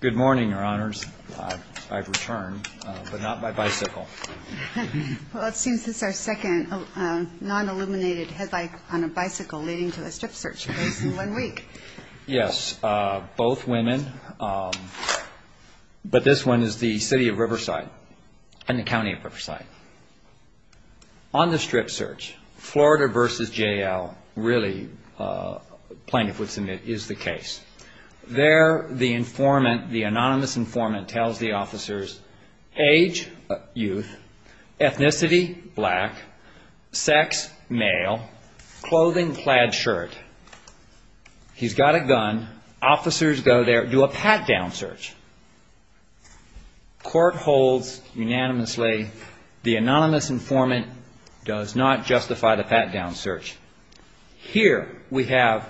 Good morning, Your Honors. I've returned, but not by bicycle. Well, it seems this is our second non-illuminated headlight on a bicycle leading to a strip search case in one week. Yes, both women, but this one is the City of Riverside and the County of Riverside. On the strip search, Florida v. J.L. really, plaintiff would submit, is the case. There, the anonymous informant tells the officers, age, youth, ethnicity, black, sex, male, clothing, plaid shirt. He's got a gun. Officers go there, do a pat-down search. Court holds unanimously, the anonymous informant does not justify the pat-down search. Here, we have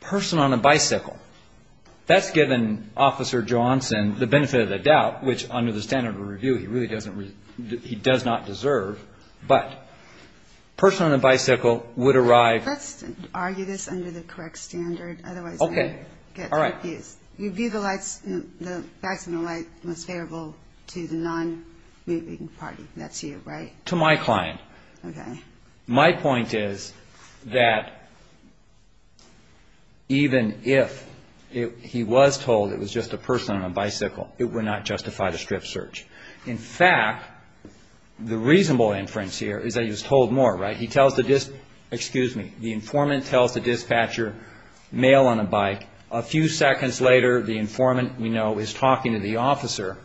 person on a bicycle. That's given Officer Johnson the benefit of the doubt, which under the standard of review, he really does not deserve. But person on a bicycle would arrive. Let's argue this under the correct standard, otherwise we get confused. Okay. All right. You view the facts in the light most favorable to the non-moving party. That's you, right? To my client. Okay. My point is that even if he was told it was just a person on a bicycle, it would not justify the strip search. In fact, the reasonable inference here is that he was told more, right? He tells the, excuse me, the informant tells the dispatcher, male on a bike. A few seconds later, the informant, we know, is talking to the officer.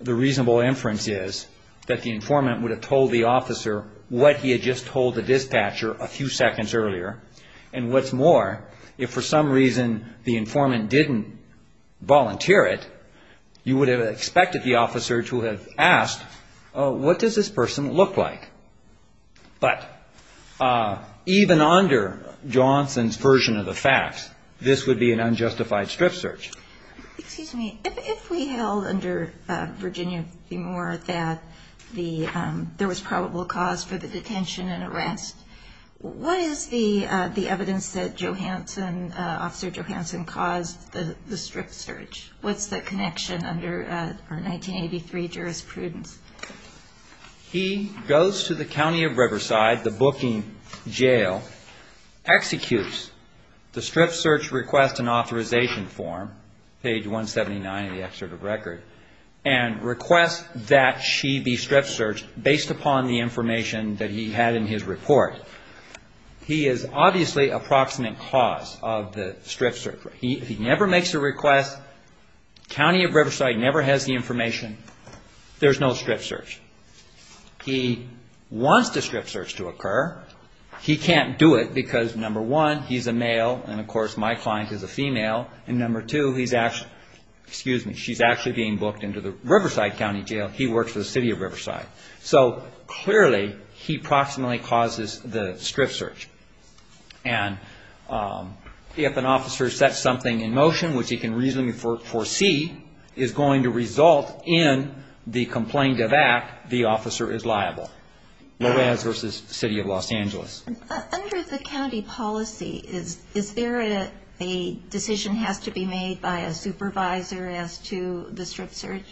The reasonable inference is that the informant would have told the officer what he had just told the dispatcher a few seconds earlier. And what's more, if for some reason the informant didn't volunteer it, you would have expected the officer to have asked, what does this person look like? But even under Johnson's version of the facts, this would be an unjustified strip search. Excuse me. If we held under Virginia v. Moore that there was probable cause for the detention and arrest, what is the evidence that Officer Johanson caused the strip search? What's the connection under our 1983 jurisprudence? He goes to the County of Riverside, the booking jail, executes the strip search request and authorization form, page 179 of the excerpt of record, and requests that she be strip searched based upon the information that he had in his report. He is obviously a proximate cause of the strip search. He never makes a request. The County of Riverside never has the information. There's no strip search. He wants the strip search to occur. He can't do it because, number one, he's a male and, of course, my client is a female, and number two, he's actually, excuse me, she's actually being booked into the Riverside County Jail. He works for the City of Riverside. So clearly, he proximately causes the strip search. And if an officer sets something in motion, which he can reasonably foresee, is going to result in the complaint of act, the officer is liable. Lorez versus City of Los Angeles. Under the county policy, is there a decision has to be made by a supervisor as to the strip search?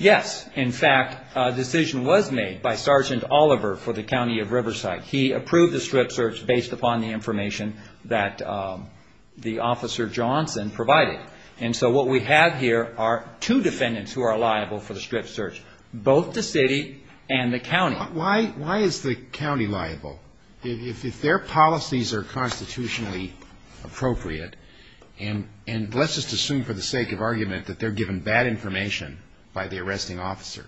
Yes. In fact, a decision was made by Sergeant Oliver for the County of Riverside. He approved the strip search based upon the information that the Officer Johnson provided. And so what we have here are two defendants who are liable for the strip search, both the city and the county. Why is the county liable? If their policies are constitutionally appropriate, and let's just assume for the sake of argument that they're given bad information by the arresting officer,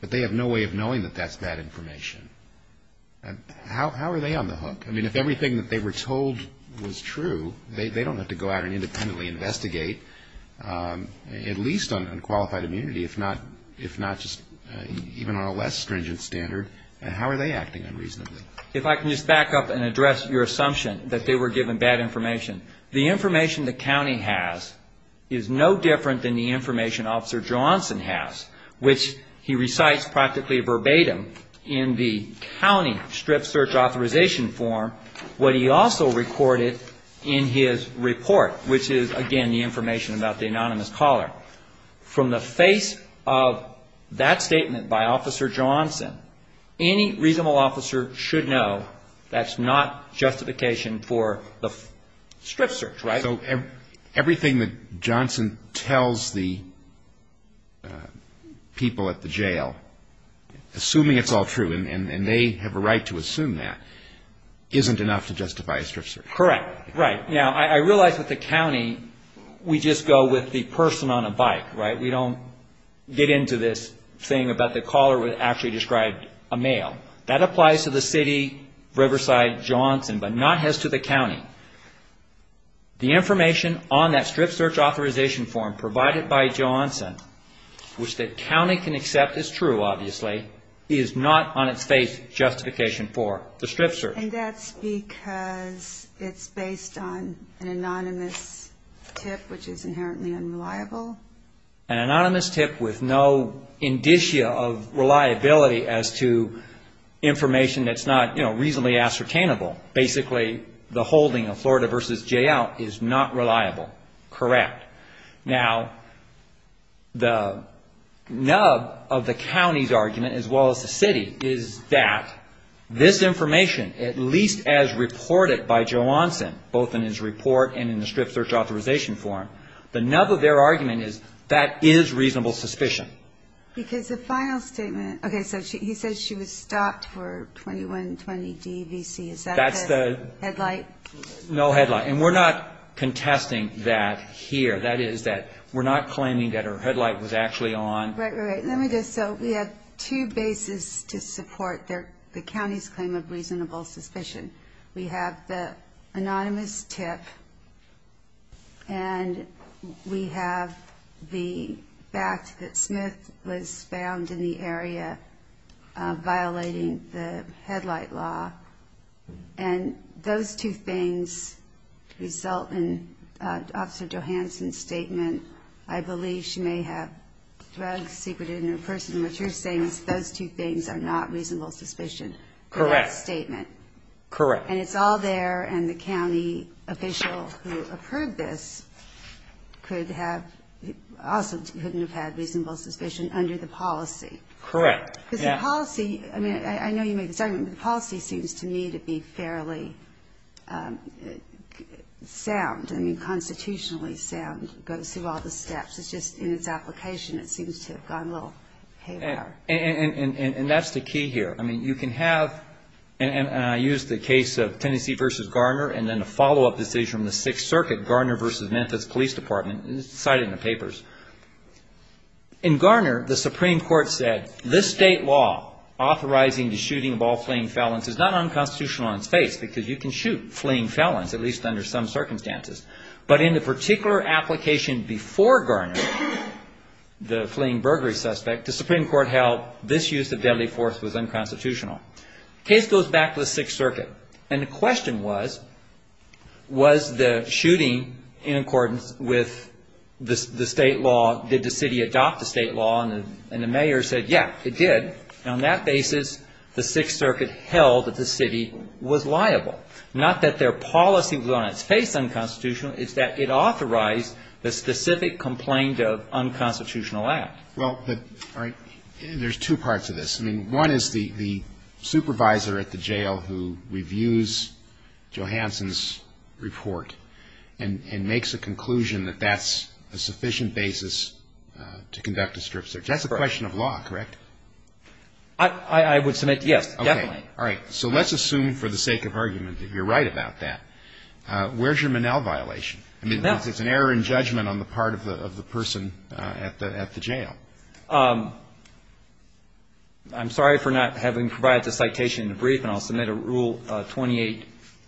but they have no way of knowing that that's bad information, how are they on the hook? I mean, if everything that they were told was true, they don't have to go out and independently investigate, at least on unqualified immunity, if not just even on a less stringent standard. How are they acting unreasonably? If I can just back up and address your assumption that they were given bad information. The information the county has is no different than the information Officer Johnson has, which he recites practically verbatim in the county strip search authorization form, what he also recorded in his report, which is, again, the information about the anonymous caller. From the face of that statement by Officer Johnson, any reasonable officer should know that's not justification for the strip search, right? So everything that Johnson tells the people at the jail, assuming it's all true, and they have a right to assume that, isn't enough to justify a strip search? Correct. Right. Now, I realize with the county, we just go with the person on a bike, right? We don't get into this thing about the caller would actually describe a male. That applies to the city, Riverside, Johnson, but not as to the county. The information on that strip search authorization form provided by Johnson, which the county can accept is true, obviously, is not on its face justification for the strip search. And that's because it's based on an anonymous tip, which is inherently unreliable? An anonymous tip with no indicia of reliability as to information that's not reasonably ascertainable. Basically, the holding of Florida v. JL is not reliable. Correct. Now, the nub of the county's argument, as well as the city, is that this information, at least as reported by Johnson, both in his report and in the strip search authorization form, the nub of their argument is that is reasonable suspicion. Because the final statement, okay, so he says she was stopped for 2120 D.V.C. Is that the headlight? No headlight. And we're not contesting that here. That is that we're not claiming that her headlight was actually on. Right, right. Let me just, so we have two bases to support the county's claim of reasonable suspicion. We have the anonymous tip, and we have the fact that Smith was found in the area violating the headlight law. And those two things result in Officer Johanson's statement, I believe she may have drugs secreted in her purse. And what you're saying is those two things are not reasonable suspicion in that statement. Correct. And it's all there, and the county official who approved this could have, also couldn't have had reasonable suspicion under the policy. Correct. Because the policy, I mean, I know you made this argument, but the policy seems to me to be fairly sound, I mean, constitutionally sound. It goes through all the steps. It's just in its application it seems to have gone a little haywire. And that's the key here. I mean, you can have, and I use the case of Tennessee v. Garner, and then a follow-up decision in the Sixth Circuit, Garner v. Memphis Police Department, cited in the papers. In Garner, the Supreme Court said, this state law authorizing the shooting of all fleeing felons is not unconstitutional on its face because you can shoot fleeing felons, at least under some circumstances. But in the particular application before Garner, the fleeing burglary suspect, the Supreme Court held this use of deadly force was unconstitutional. The case goes back to the Sixth Circuit. And the question was, was the shooting in accordance with the state law, did the city adopt the state law, and the mayor said, yeah, it did. And on that basis, the Sixth Circuit held that the city was liable, not that their policy was on its face unconstitutional, it's that it authorized the specific complaint of unconstitutional act. Well, all right. There's two parts of this. I mean, one is the supervisor at the jail who reviews Johansson's report and makes a conclusion that that's a sufficient basis to conduct a strip search. That's a question of law, correct? I would submit yes, definitely. Okay. All right. So let's assume for the sake of argument that you're right about that. Where's your Monell violation? I mean, it's an error in judgment on the part of the person at the jail. Okay. I'm sorry for not having provided the citation in the brief, and I'll submit a Rule 28,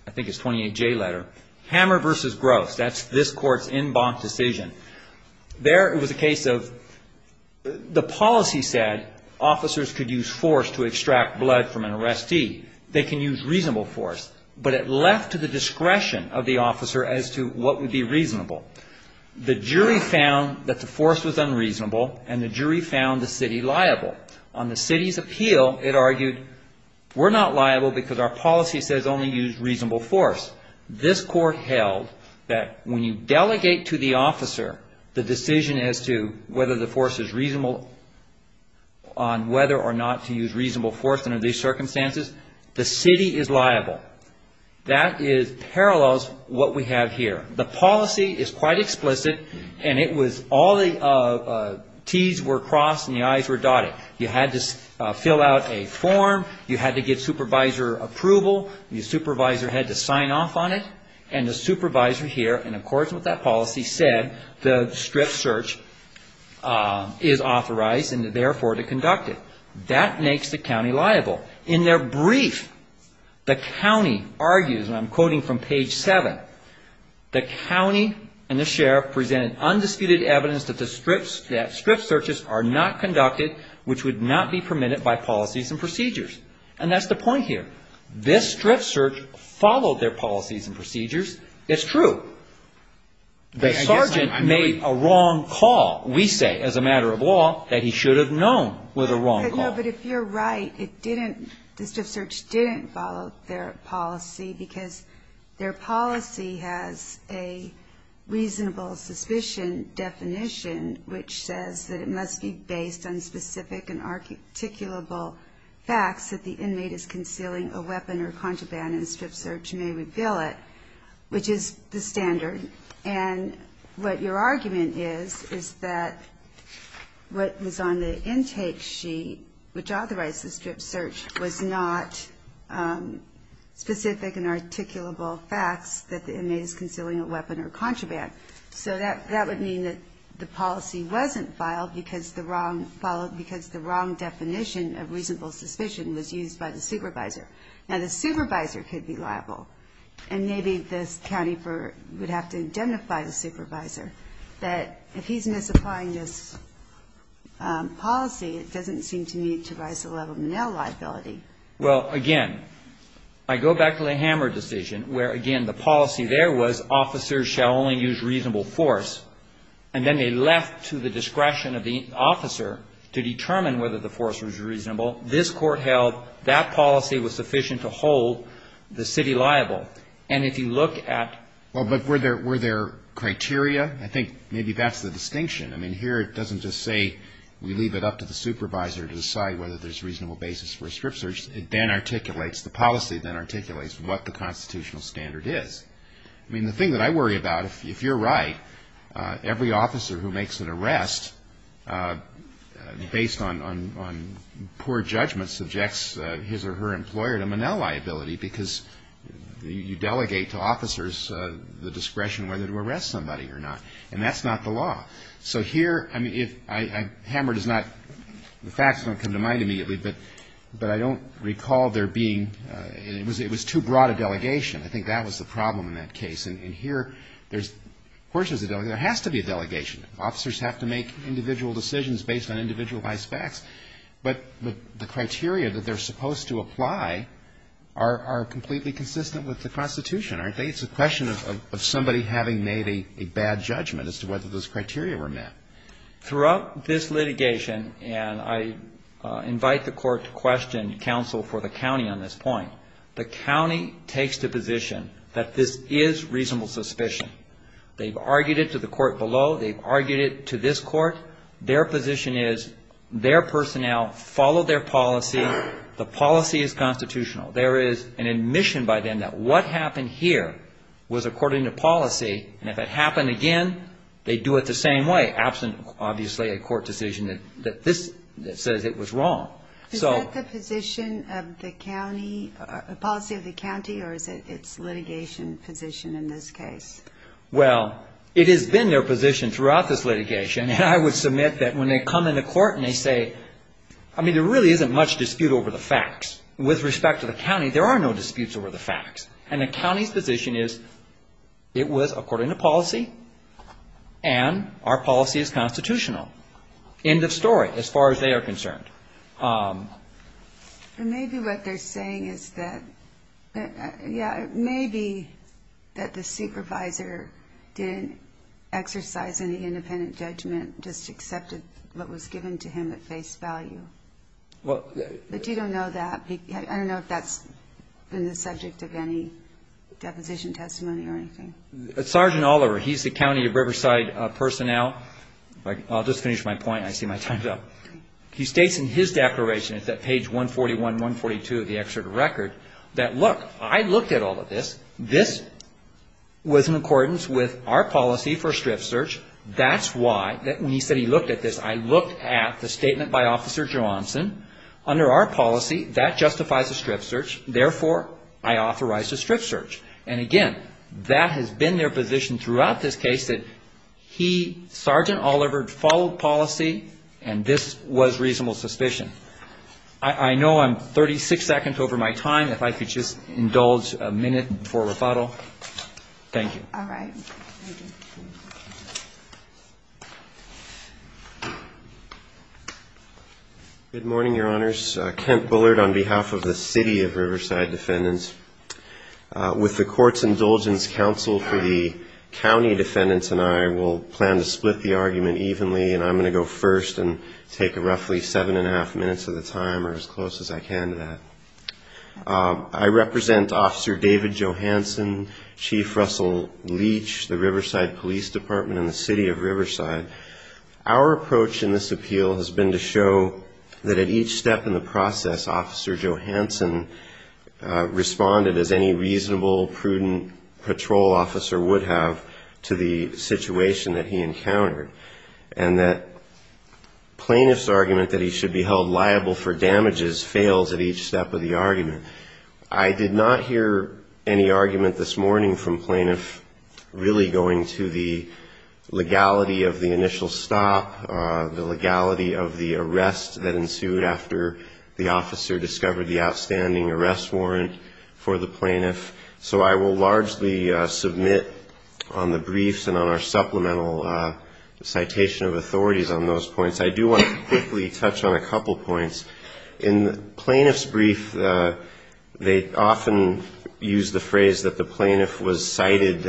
I think it's 28J letter. Hammer versus Gross, that's this Court's en banc decision. There it was a case of the policy said officers could use force to extract blood from an arrestee. They can use reasonable force. But it left to the discretion of the officer as to what would be reasonable. The jury found that the force was unreasonable, and the jury found the city liable. On the city's appeal, it argued we're not liable because our policy says only use reasonable force. This Court held that when you delegate to the officer the decision as to whether the force is reasonable on whether or not to use reasonable force under these circumstances, the city is liable. That parallels what we have here. The policy is quite explicit, and it was all the T's were crossed and the I's were dotted. You had to fill out a form. You had to get supervisor approval. The supervisor had to sign off on it. And the supervisor here, in accordance with that policy, said the strip search is authorized and therefore to conduct it. That makes the county liable. In their brief, the county argues, and I'm quoting from page 7, the county and the sheriff presented undisputed evidence that strip searches are not conducted, which would not be permitted by policies and procedures. And that's the point here. This strip search followed their policies and procedures. It's true. The sergeant made a wrong call, we say, as a matter of law, that he should have known was a wrong call. No, but if you're right, it didn't, the strip search didn't follow their policy because their policy has a reasonable suspicion definition which says that it must be based on specific and articulable facts that the inmate is concealing a weapon or contraband and the strip search may reveal it, which is the standard. And what your argument is is that what was on the intake sheet, which authorized the strip search, was not specific and articulable facts that the inmate is concealing a weapon or contraband. So that would mean that the policy wasn't filed because the wrong definition of reasonable suspicion was used by the supervisor. Now, the supervisor could be liable. And maybe this county would have to indemnify the supervisor that if he's misapplying this policy, it doesn't seem to me to rise the level of male liability. Well, again, I go back to the Hammer decision where, again, the policy there was officers shall only use reasonable force. And then they left to the discretion of the officer to determine whether the force was reasonable. This Court held that policy was sufficient to hold the city liable. And if you look at the other one, where there were there criteria, I think maybe that's the distinction. I mean, here it doesn't just say we leave it up to the supervisor to decide whether there's reasonable basis for a strip search. It then articulates, the policy then articulates what the constitutional standard is. I mean, the thing that I worry about, if you're right, every officer who makes an arrest based on poor judgment subjects his or her employer to manel liability, because you delegate to officers the discretion whether to arrest somebody or not. And that's not the law. So here, I mean, Hammer does not, the facts don't come to mind immediately, but I don't recall there being, it was too broad a delegation. I think that was the problem in that case. And here, of course there's a delegation. There has to be a delegation. Officers have to make individual decisions based on individualized facts. But the criteria that they're supposed to apply are completely consistent with the Constitution, aren't they? It's a question of somebody having made a bad judgment as to whether those criteria were met. Throughout this litigation, and I invite the court to question counsel for the county on this point, the county takes the position that this is reasonable suspicion. They've argued it to the court below. They've argued it to this court. Their position is their personnel follow their policy. The policy is constitutional. There is an admission by them that what happened here was according to policy, and if it happened again, they'd do it the same way, absent, obviously, a court decision that says it was wrong. Is that the policy of the county, or is it its litigation position in this case? Well, it has been their position throughout this litigation, and I would submit that when they come into court and they say, I mean, there really isn't much dispute over the facts. With respect to the county, there are no disputes over the facts. And the county's position is it was according to policy, and our policy is constitutional. End of story as far as they are concerned. Maybe what they're saying is that, yeah, maybe that the supervisor didn't exercise any independent judgment, just accepted what was given to him at face value. But you don't know that. I don't know if that's been the subject of any deposition testimony or anything. Sergeant Oliver, he's the county of Riverside personnel. I'll just finish my point. I see my time's up. He states in his declaration, it's at page 141, 142 of the excerpt of record, that, look, I looked at all of this. This was in accordance with our policy for a strip search. That's why, when he said he looked at this, I looked at the statement by Officer Johnson. Under our policy, that justifies a strip search. Therefore, I authorize a strip search. And, again, that has been their position throughout this case, that he, Sergeant Oliver, followed policy, and this was reasonable suspicion. I know I'm 36 seconds over my time. If I could just indulge a minute for rebuttal. Thank you. All right. Good morning, Your Honors. Kent Bullard on behalf of the city of Riverside defendants. With the court's indulgence, counsel for the county defendants and I will plan to split the argument evenly, and I'm going to go first and take roughly seven and a half minutes of the time or as close as I can to that. I represent Officer David Johanson, Chief Russell Leach, the Riverside Police Department and the city of Riverside. Our approach in this appeal has been to show that at each step in the process, Officer Johanson responded as any reasonable, prudent patrol officer would have to the situation that he encountered, and that plaintiff's argument that he should be held liable for damages fails at each step of the argument. I did not hear any argument this morning from plaintiffs really going to the legality of the initial stop, the legality of the arrest that ensued after the officer discovered the outstanding arrest warrant for the plaintiff. So I will largely submit on the briefs and on our supplemental citation of authorities on those points. I do want to quickly touch on a couple points. In the plaintiff's brief, they often use the phrase that the plaintiff was cited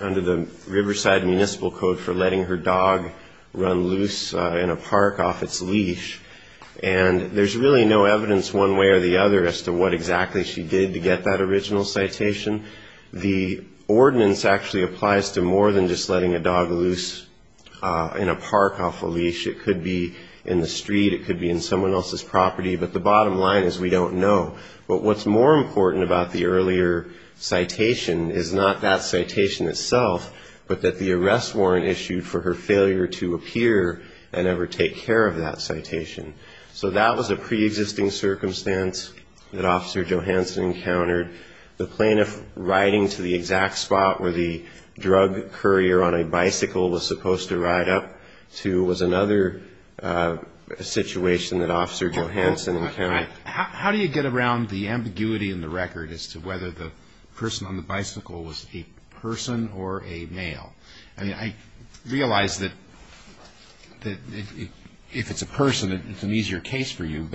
under the Riverside Municipal Code for letting her dog run loose in a park off its leash, and there's really no evidence one way or the other as to what exactly she did to get that original citation. The ordinance actually applies to more than just letting a dog loose in a park off a leash. It could be in the street. It could be in someone else's property. But the bottom line is we don't know. But what's more important about the earlier citation is not that citation itself, but that the arrest warrant issued for her failure to appear and ever take care of that citation. So that was a preexisting circumstance that Officer Johanson encountered. The plaintiff riding to the exact spot where the drug courier on a bicycle was supposed to ride up to was another situation that Officer Johanson encountered. How do you get around the ambiguity in the record as to whether the person on the bicycle was a person or a male? I realize that if it's a person, it's an easier case for you,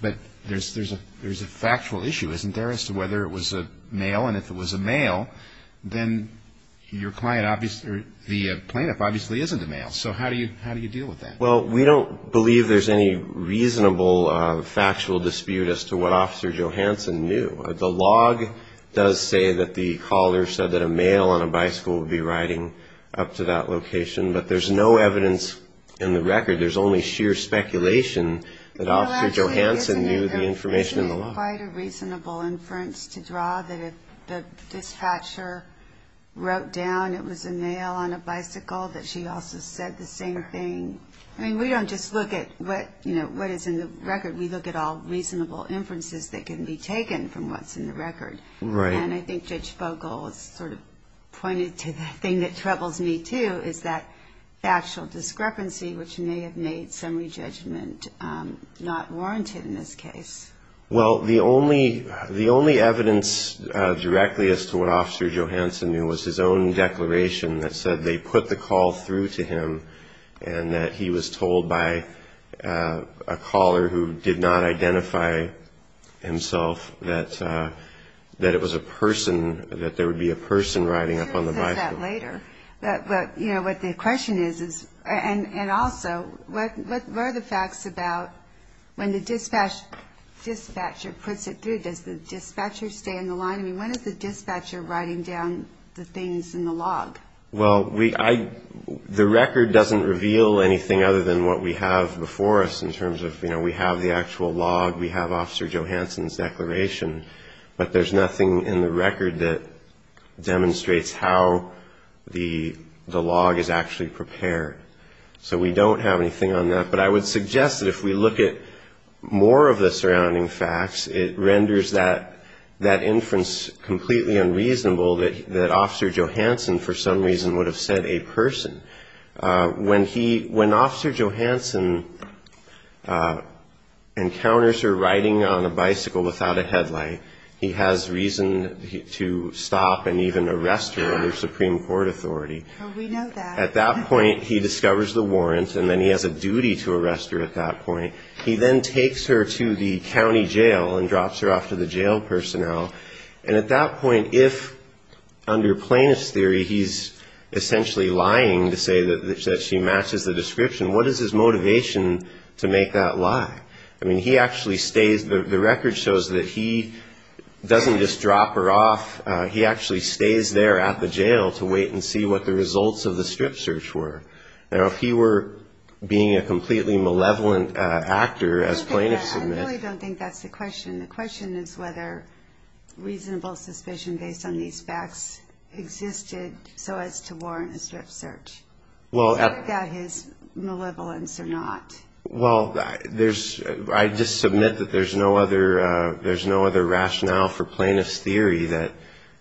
but there's a factual issue, isn't there, as to whether it was a male? And if it was a male, then the plaintiff obviously isn't a male. So how do you deal with that? Well, we don't believe there's any reasonable factual dispute as to what Officer Johanson knew. The log does say that the caller said that a male on a bicycle would be riding up to that location, but there's no evidence in the record. There's only sheer speculation that Officer Johanson knew the information in the log. Well, actually, isn't it quite a reasonable inference to draw that if the dispatcher wrote down it was a male on a bicycle, that she also said the same thing? I mean, we don't just look at what is in the record. We look at all reasonable inferences that can be taken from what's in the record. Right. And I think Judge Fogel has sort of pointed to the thing that troubles me, too, is that factual discrepancy, which may have made summary judgment not warranted in this case. Well, the only evidence directly as to what Officer Johanson knew was his own declaration that said they put the call through to him and that he was told by a caller who did not identify himself that it was a person, that there would be a person riding up on the bicycle. But, you know, what the question is is, and also, what are the facts about when the dispatcher puts it through? Does the dispatcher stay in the line? I mean, when is the dispatcher writing down the things in the log? Well, the record doesn't reveal anything other than what we have before us in terms of, you know, we have the actual log, we have Officer Johanson's declaration, but there's nothing in the record that demonstrates how the log is actually prepared. So we don't have anything on that. But I would suggest that if we look at more of the surrounding facts, it renders that inference completely unreasonable that Officer Johanson for some reason would have said a person. When he, when Officer Johanson encounters her riding on a bicycle without a headlight, he has reason to stop and even arrest her under Supreme Court authority. At that point, he discovers the warrants, and then he has a duty to arrest her at that point. He then takes her to the county jail and drops her off to the jail personnel. And at that point, if under plaintiff's theory he's essentially lying to say that she matches the description, what is his motivation to make that lie? I mean, he actually stays, the record shows that he doesn't just drop her off, he actually stays there at the jail to wait and see what the results of the strip search were. Now, if he were being a completely malevolent actor as plaintiffs admit. I really don't think that's the question. The question is whether reasonable suspicion based on these facts existed so as to warrant a strip search. Well. Without his malevolence or not. Well, there's, I just submit that there's no other, there's no other rationale for plaintiff's theory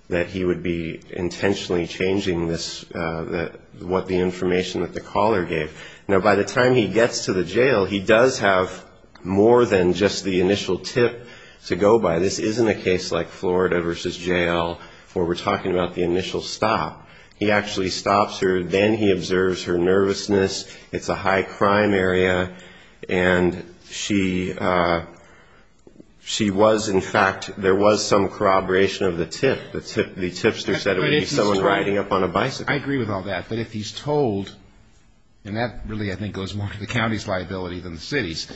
that he would be intentionally changing this, what the information that the caller gave. Now, by the time he gets to the jail, he does have more than just the initial tip to go by. This isn't a case like Florida versus jail where we're talking about the initial stop. He actually stops her. Then he observes her nervousness. It's a high crime area. And she was, in fact, there was some corroboration of the tip. I agree with all that. But if he's told, and that really I think goes more to the county's liability than the city's,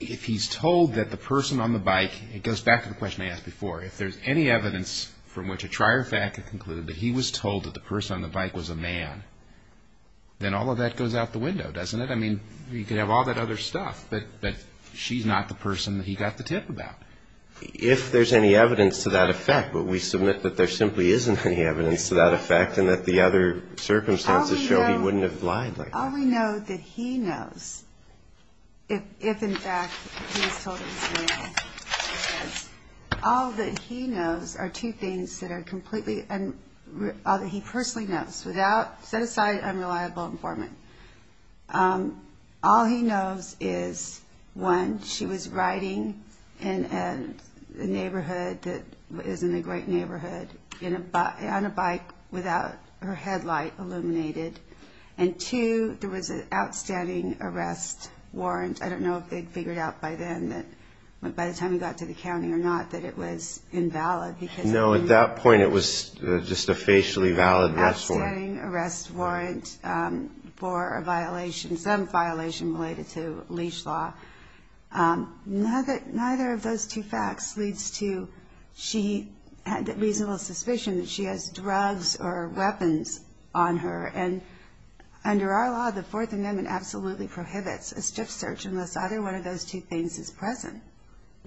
if he's told that the person on the bike, it goes back to the question I asked before, if there's any evidence from which a trier fact can conclude that he was told that the person on the bike was a man, then all of that goes out the window, doesn't it? I mean, you could have all that other stuff. But she's not the person that he got the tip about. If there's any evidence to that effect, but we submit that there simply isn't any evidence to that effect and that the other circumstances show he wouldn't have lied like that. All we know that he knows, if, in fact, he was told he was a man, all that he knows are two things that are completely, all that he personally knows. Set aside unreliable informant. All he knows is, one, she was riding in a neighborhood that isn't a great neighborhood on a bike without her headlight illuminated. And, two, there was an outstanding arrest warrant. I don't know if they'd figured out by then, by the time he got to the county or not, that it was invalid. No, at that point it was just a facially valid arrest warrant. She was getting an arrest warrant for a violation, some violation related to leash law. Neither of those two facts leads to she had reasonable suspicion that she has drugs or weapons on her. And under our law, the Fourth Amendment absolutely prohibits a stiff search unless either one of those two things is present.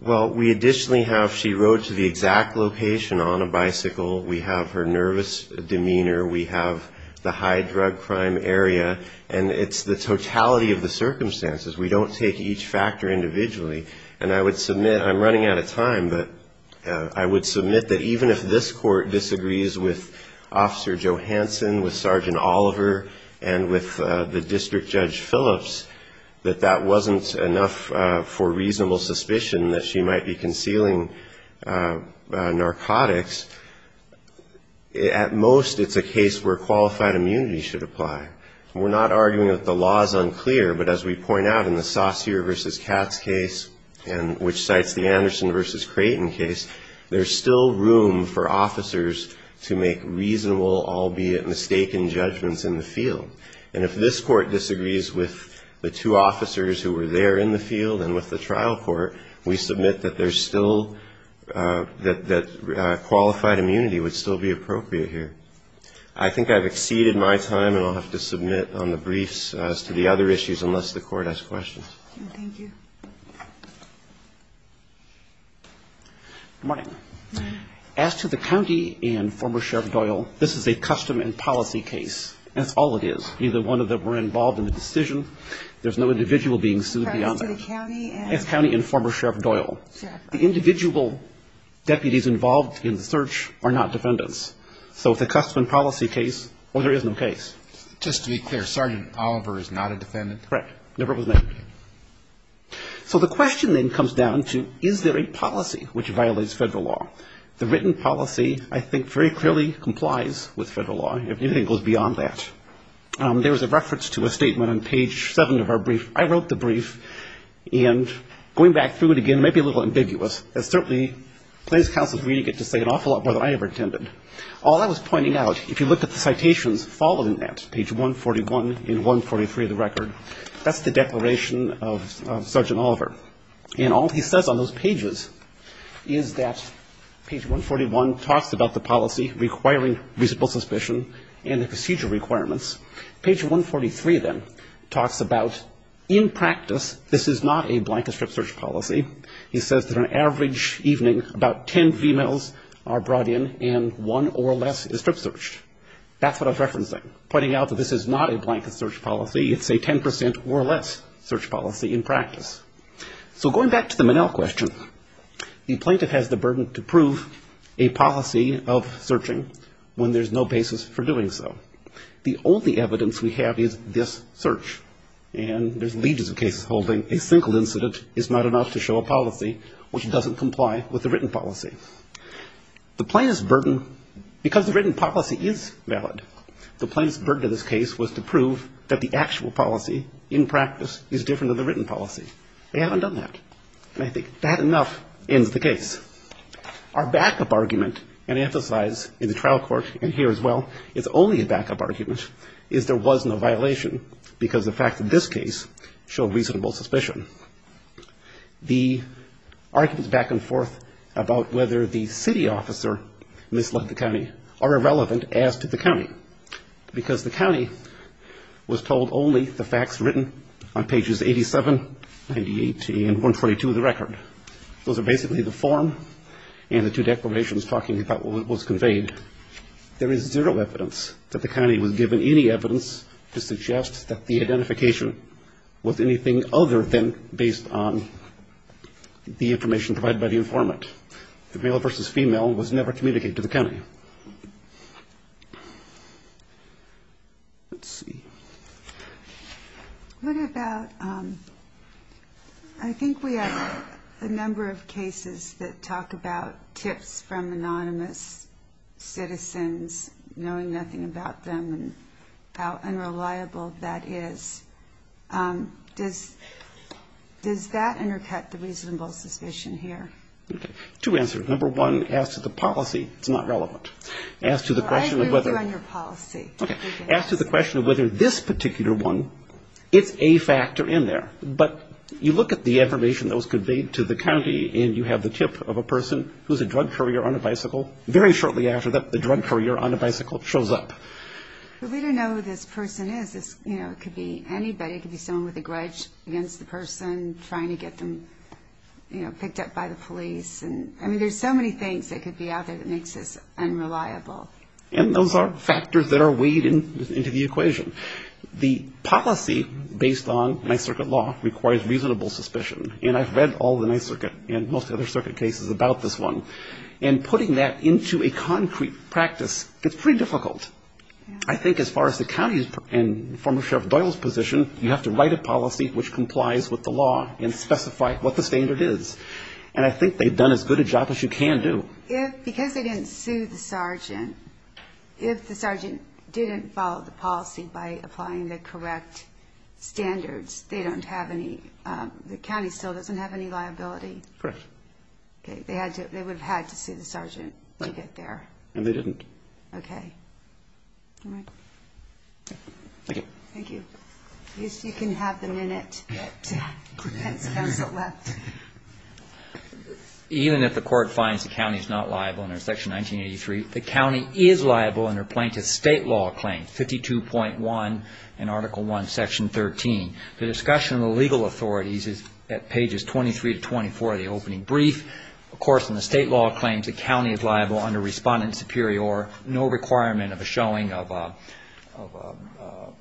Well, we additionally have she rode to the exact location on a bicycle. We have her nervous demeanor. We have the high drug crime area. And it's the totality of the circumstances. We don't take each factor individually. And I would submit, I'm running out of time, but I would submit that even if this court disagrees with Officer Johanson, with Sergeant Oliver, and with the District Judge Phillips, that that wasn't enough for reasonable suspicion that she might be concealing narcotics, at most it's a case where qualified immunity should apply. We're not arguing that the law is unclear. But as we point out in the Saussure v. Katz case, which cites the Anderson v. Creighton case, there's still room for officers to make reasonable, albeit mistaken, judgments in the field. And if this court disagrees with the two officers who were there in the field and with the trial court, we submit that there's still, that qualified immunity would still be appropriate here. I think I've exceeded my time and I'll have to submit on the briefs as to the other issues unless the court has questions. Thank you. Good morning. Good morning. As to the county and former Sheriff Doyle, this is a custom and policy case. That's all it is. Either one of them were involved in the decision. There's no individual being sued beyond that. It's county and former Sheriff Doyle. The individual deputies involved in the search are not defendants. So it's a custom and policy case, or there is no case. Just to be clear, Sergeant Oliver is not a defendant? Correct, never was named. So the question then comes down to, is there a policy which violates federal law? The written policy, I think, very clearly complies with federal law. If anything goes beyond that. There was a reference to a statement on page 7 of our brief. I wrote the brief. And going back through it again, it may be a little ambiguous, as certainly plaintiff's counsel is reading it to say an awful lot more than I ever intended. All I was pointing out, if you look at the citations following that, page 141 and 143 of the record, that's the declaration of Sergeant Oliver. And all he says on those pages is that page 141 talks about the policy requiring reasonable suspicion and the procedure requirements. Page 143, then, talks about, in practice, this is not a blanket strip search policy. He says that on an average evening, about ten females are brought in and one or less is strip searched. That's what I was referencing, pointing out that this is not a blanket search policy. It's a ten percent or less search policy in practice. So going back to the Manel question, the plaintiff has the burden to prove a policy of searching when there's no basis for doing so. The only evidence we have is this search. And there's legions of cases holding a single incident is not enough to show a policy which doesn't comply with the written policy. The plaintiff's burden, because the written policy is valid, the plaintiff's burden to this case was to prove that the actual policy, in practice, is different than the written policy. They haven't done that. And I think that enough ends the case. Our backup argument, and I emphasize in the trial court and here as well, it's only a backup argument, is there was no violation because the facts of this case show reasonable suspicion. The arguments back and forth about whether the city officer misled the county are irrelevant as to the county, because the county was told only the facts written on pages 87, 98, and 122 of the record. Those are basically the form and the two declarations talking about what was conveyed. There is zero evidence that the county was given any evidence to suggest that the identification was anything other than based on the information provided by the informant. The male versus female was never communicated to the county. Let's see. I think we have a number of cases that talk about tips from anonymous citizens, knowing nothing about them and how unreliable that is. Does that undercut the reasonable suspicion here? Two answers. Number one, as to the policy, it's not relevant. I agree with you on your policy. As to the question of whether this particular one, it's a factor in there, but you look at the information that was conveyed to the county and you have the tip of a person who is a drug courier on a bicycle, very shortly after that the drug courier on a bicycle shows up. But we don't know who this person is. It could be anybody. It could be someone with a grudge against the person trying to get them picked up by the police. I mean, there's so many things that could be out there that makes this unreliable. And those are factors that are weighed into the equation. The policy based on Ninth Circuit law requires reasonable suspicion, and I've read all of the Ninth Circuit and most other circuit cases about this one. And putting that into a concrete practice, it's pretty difficult. I think as far as the county and former Sheriff Doyle's position, you have to write a policy which complies with the law and specify what the standard is. And I think they've done as good a job as you can do. If, because they didn't sue the sergeant, if the sergeant didn't follow the policy by applying the correct standards, they don't have any, the county still doesn't have any liability. Correct. Okay, they would have had to sue the sergeant to get there. And they didn't. Okay. All right. Thank you. Thank you. You can have the minute that the defense counsel left. Even if the court finds the county is not liable under Section 1983, the county is liable under plaintiff's state law claim, 52.1 and Article I, Section 13. The discussion of the legal authorities is at pages 23 to 24 of the opening brief. Of course, in the state law claims, the county is liable under Respondent Superior, no requirement of a showing of a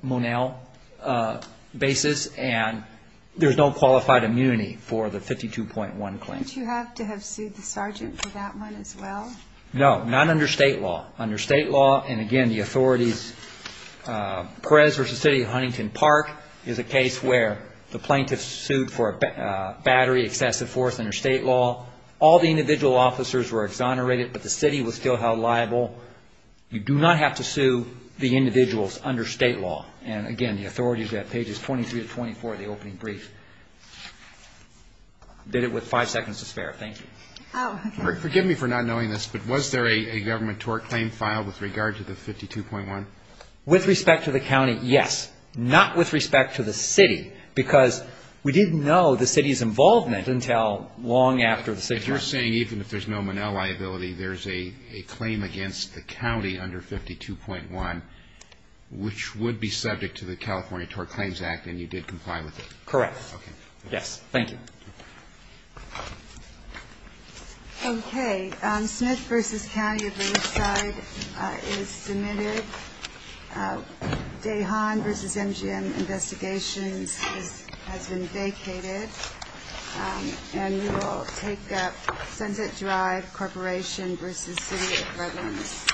Monell basis. And there's no qualified immunity for the 52.1 claim. Don't you have to have sued the sergeant for that one as well? No, not under state law. And, again, the authorities, Perez v. City of Huntington Park is a case where the plaintiffs sued for battery, excessive force under state law. All the individual officers were exonerated, but the city was still held liable. You do not have to sue the individuals under state law. And, again, the authorities are at pages 23 to 24 of the opening brief. Did it with five seconds to spare. Thank you. Oh, okay. Forgive me for not knowing this, but was there a government tort claim filed with regard to the 52.1? With respect to the county, yes. Not with respect to the city, because we didn't know the city's involvement until long after the city was. If you're saying even if there's no Monell liability, there's a claim against the county under 52.1, which would be subject to the California Tort Claims Act, and you did comply with it. Correct. Okay. Yes, thank you. Okay. Smith v. County of Riverside is submitted. Dahan v. MGM Investigations has been vacated. And we will take up Sunset Drive Corporation v. City of Redlands.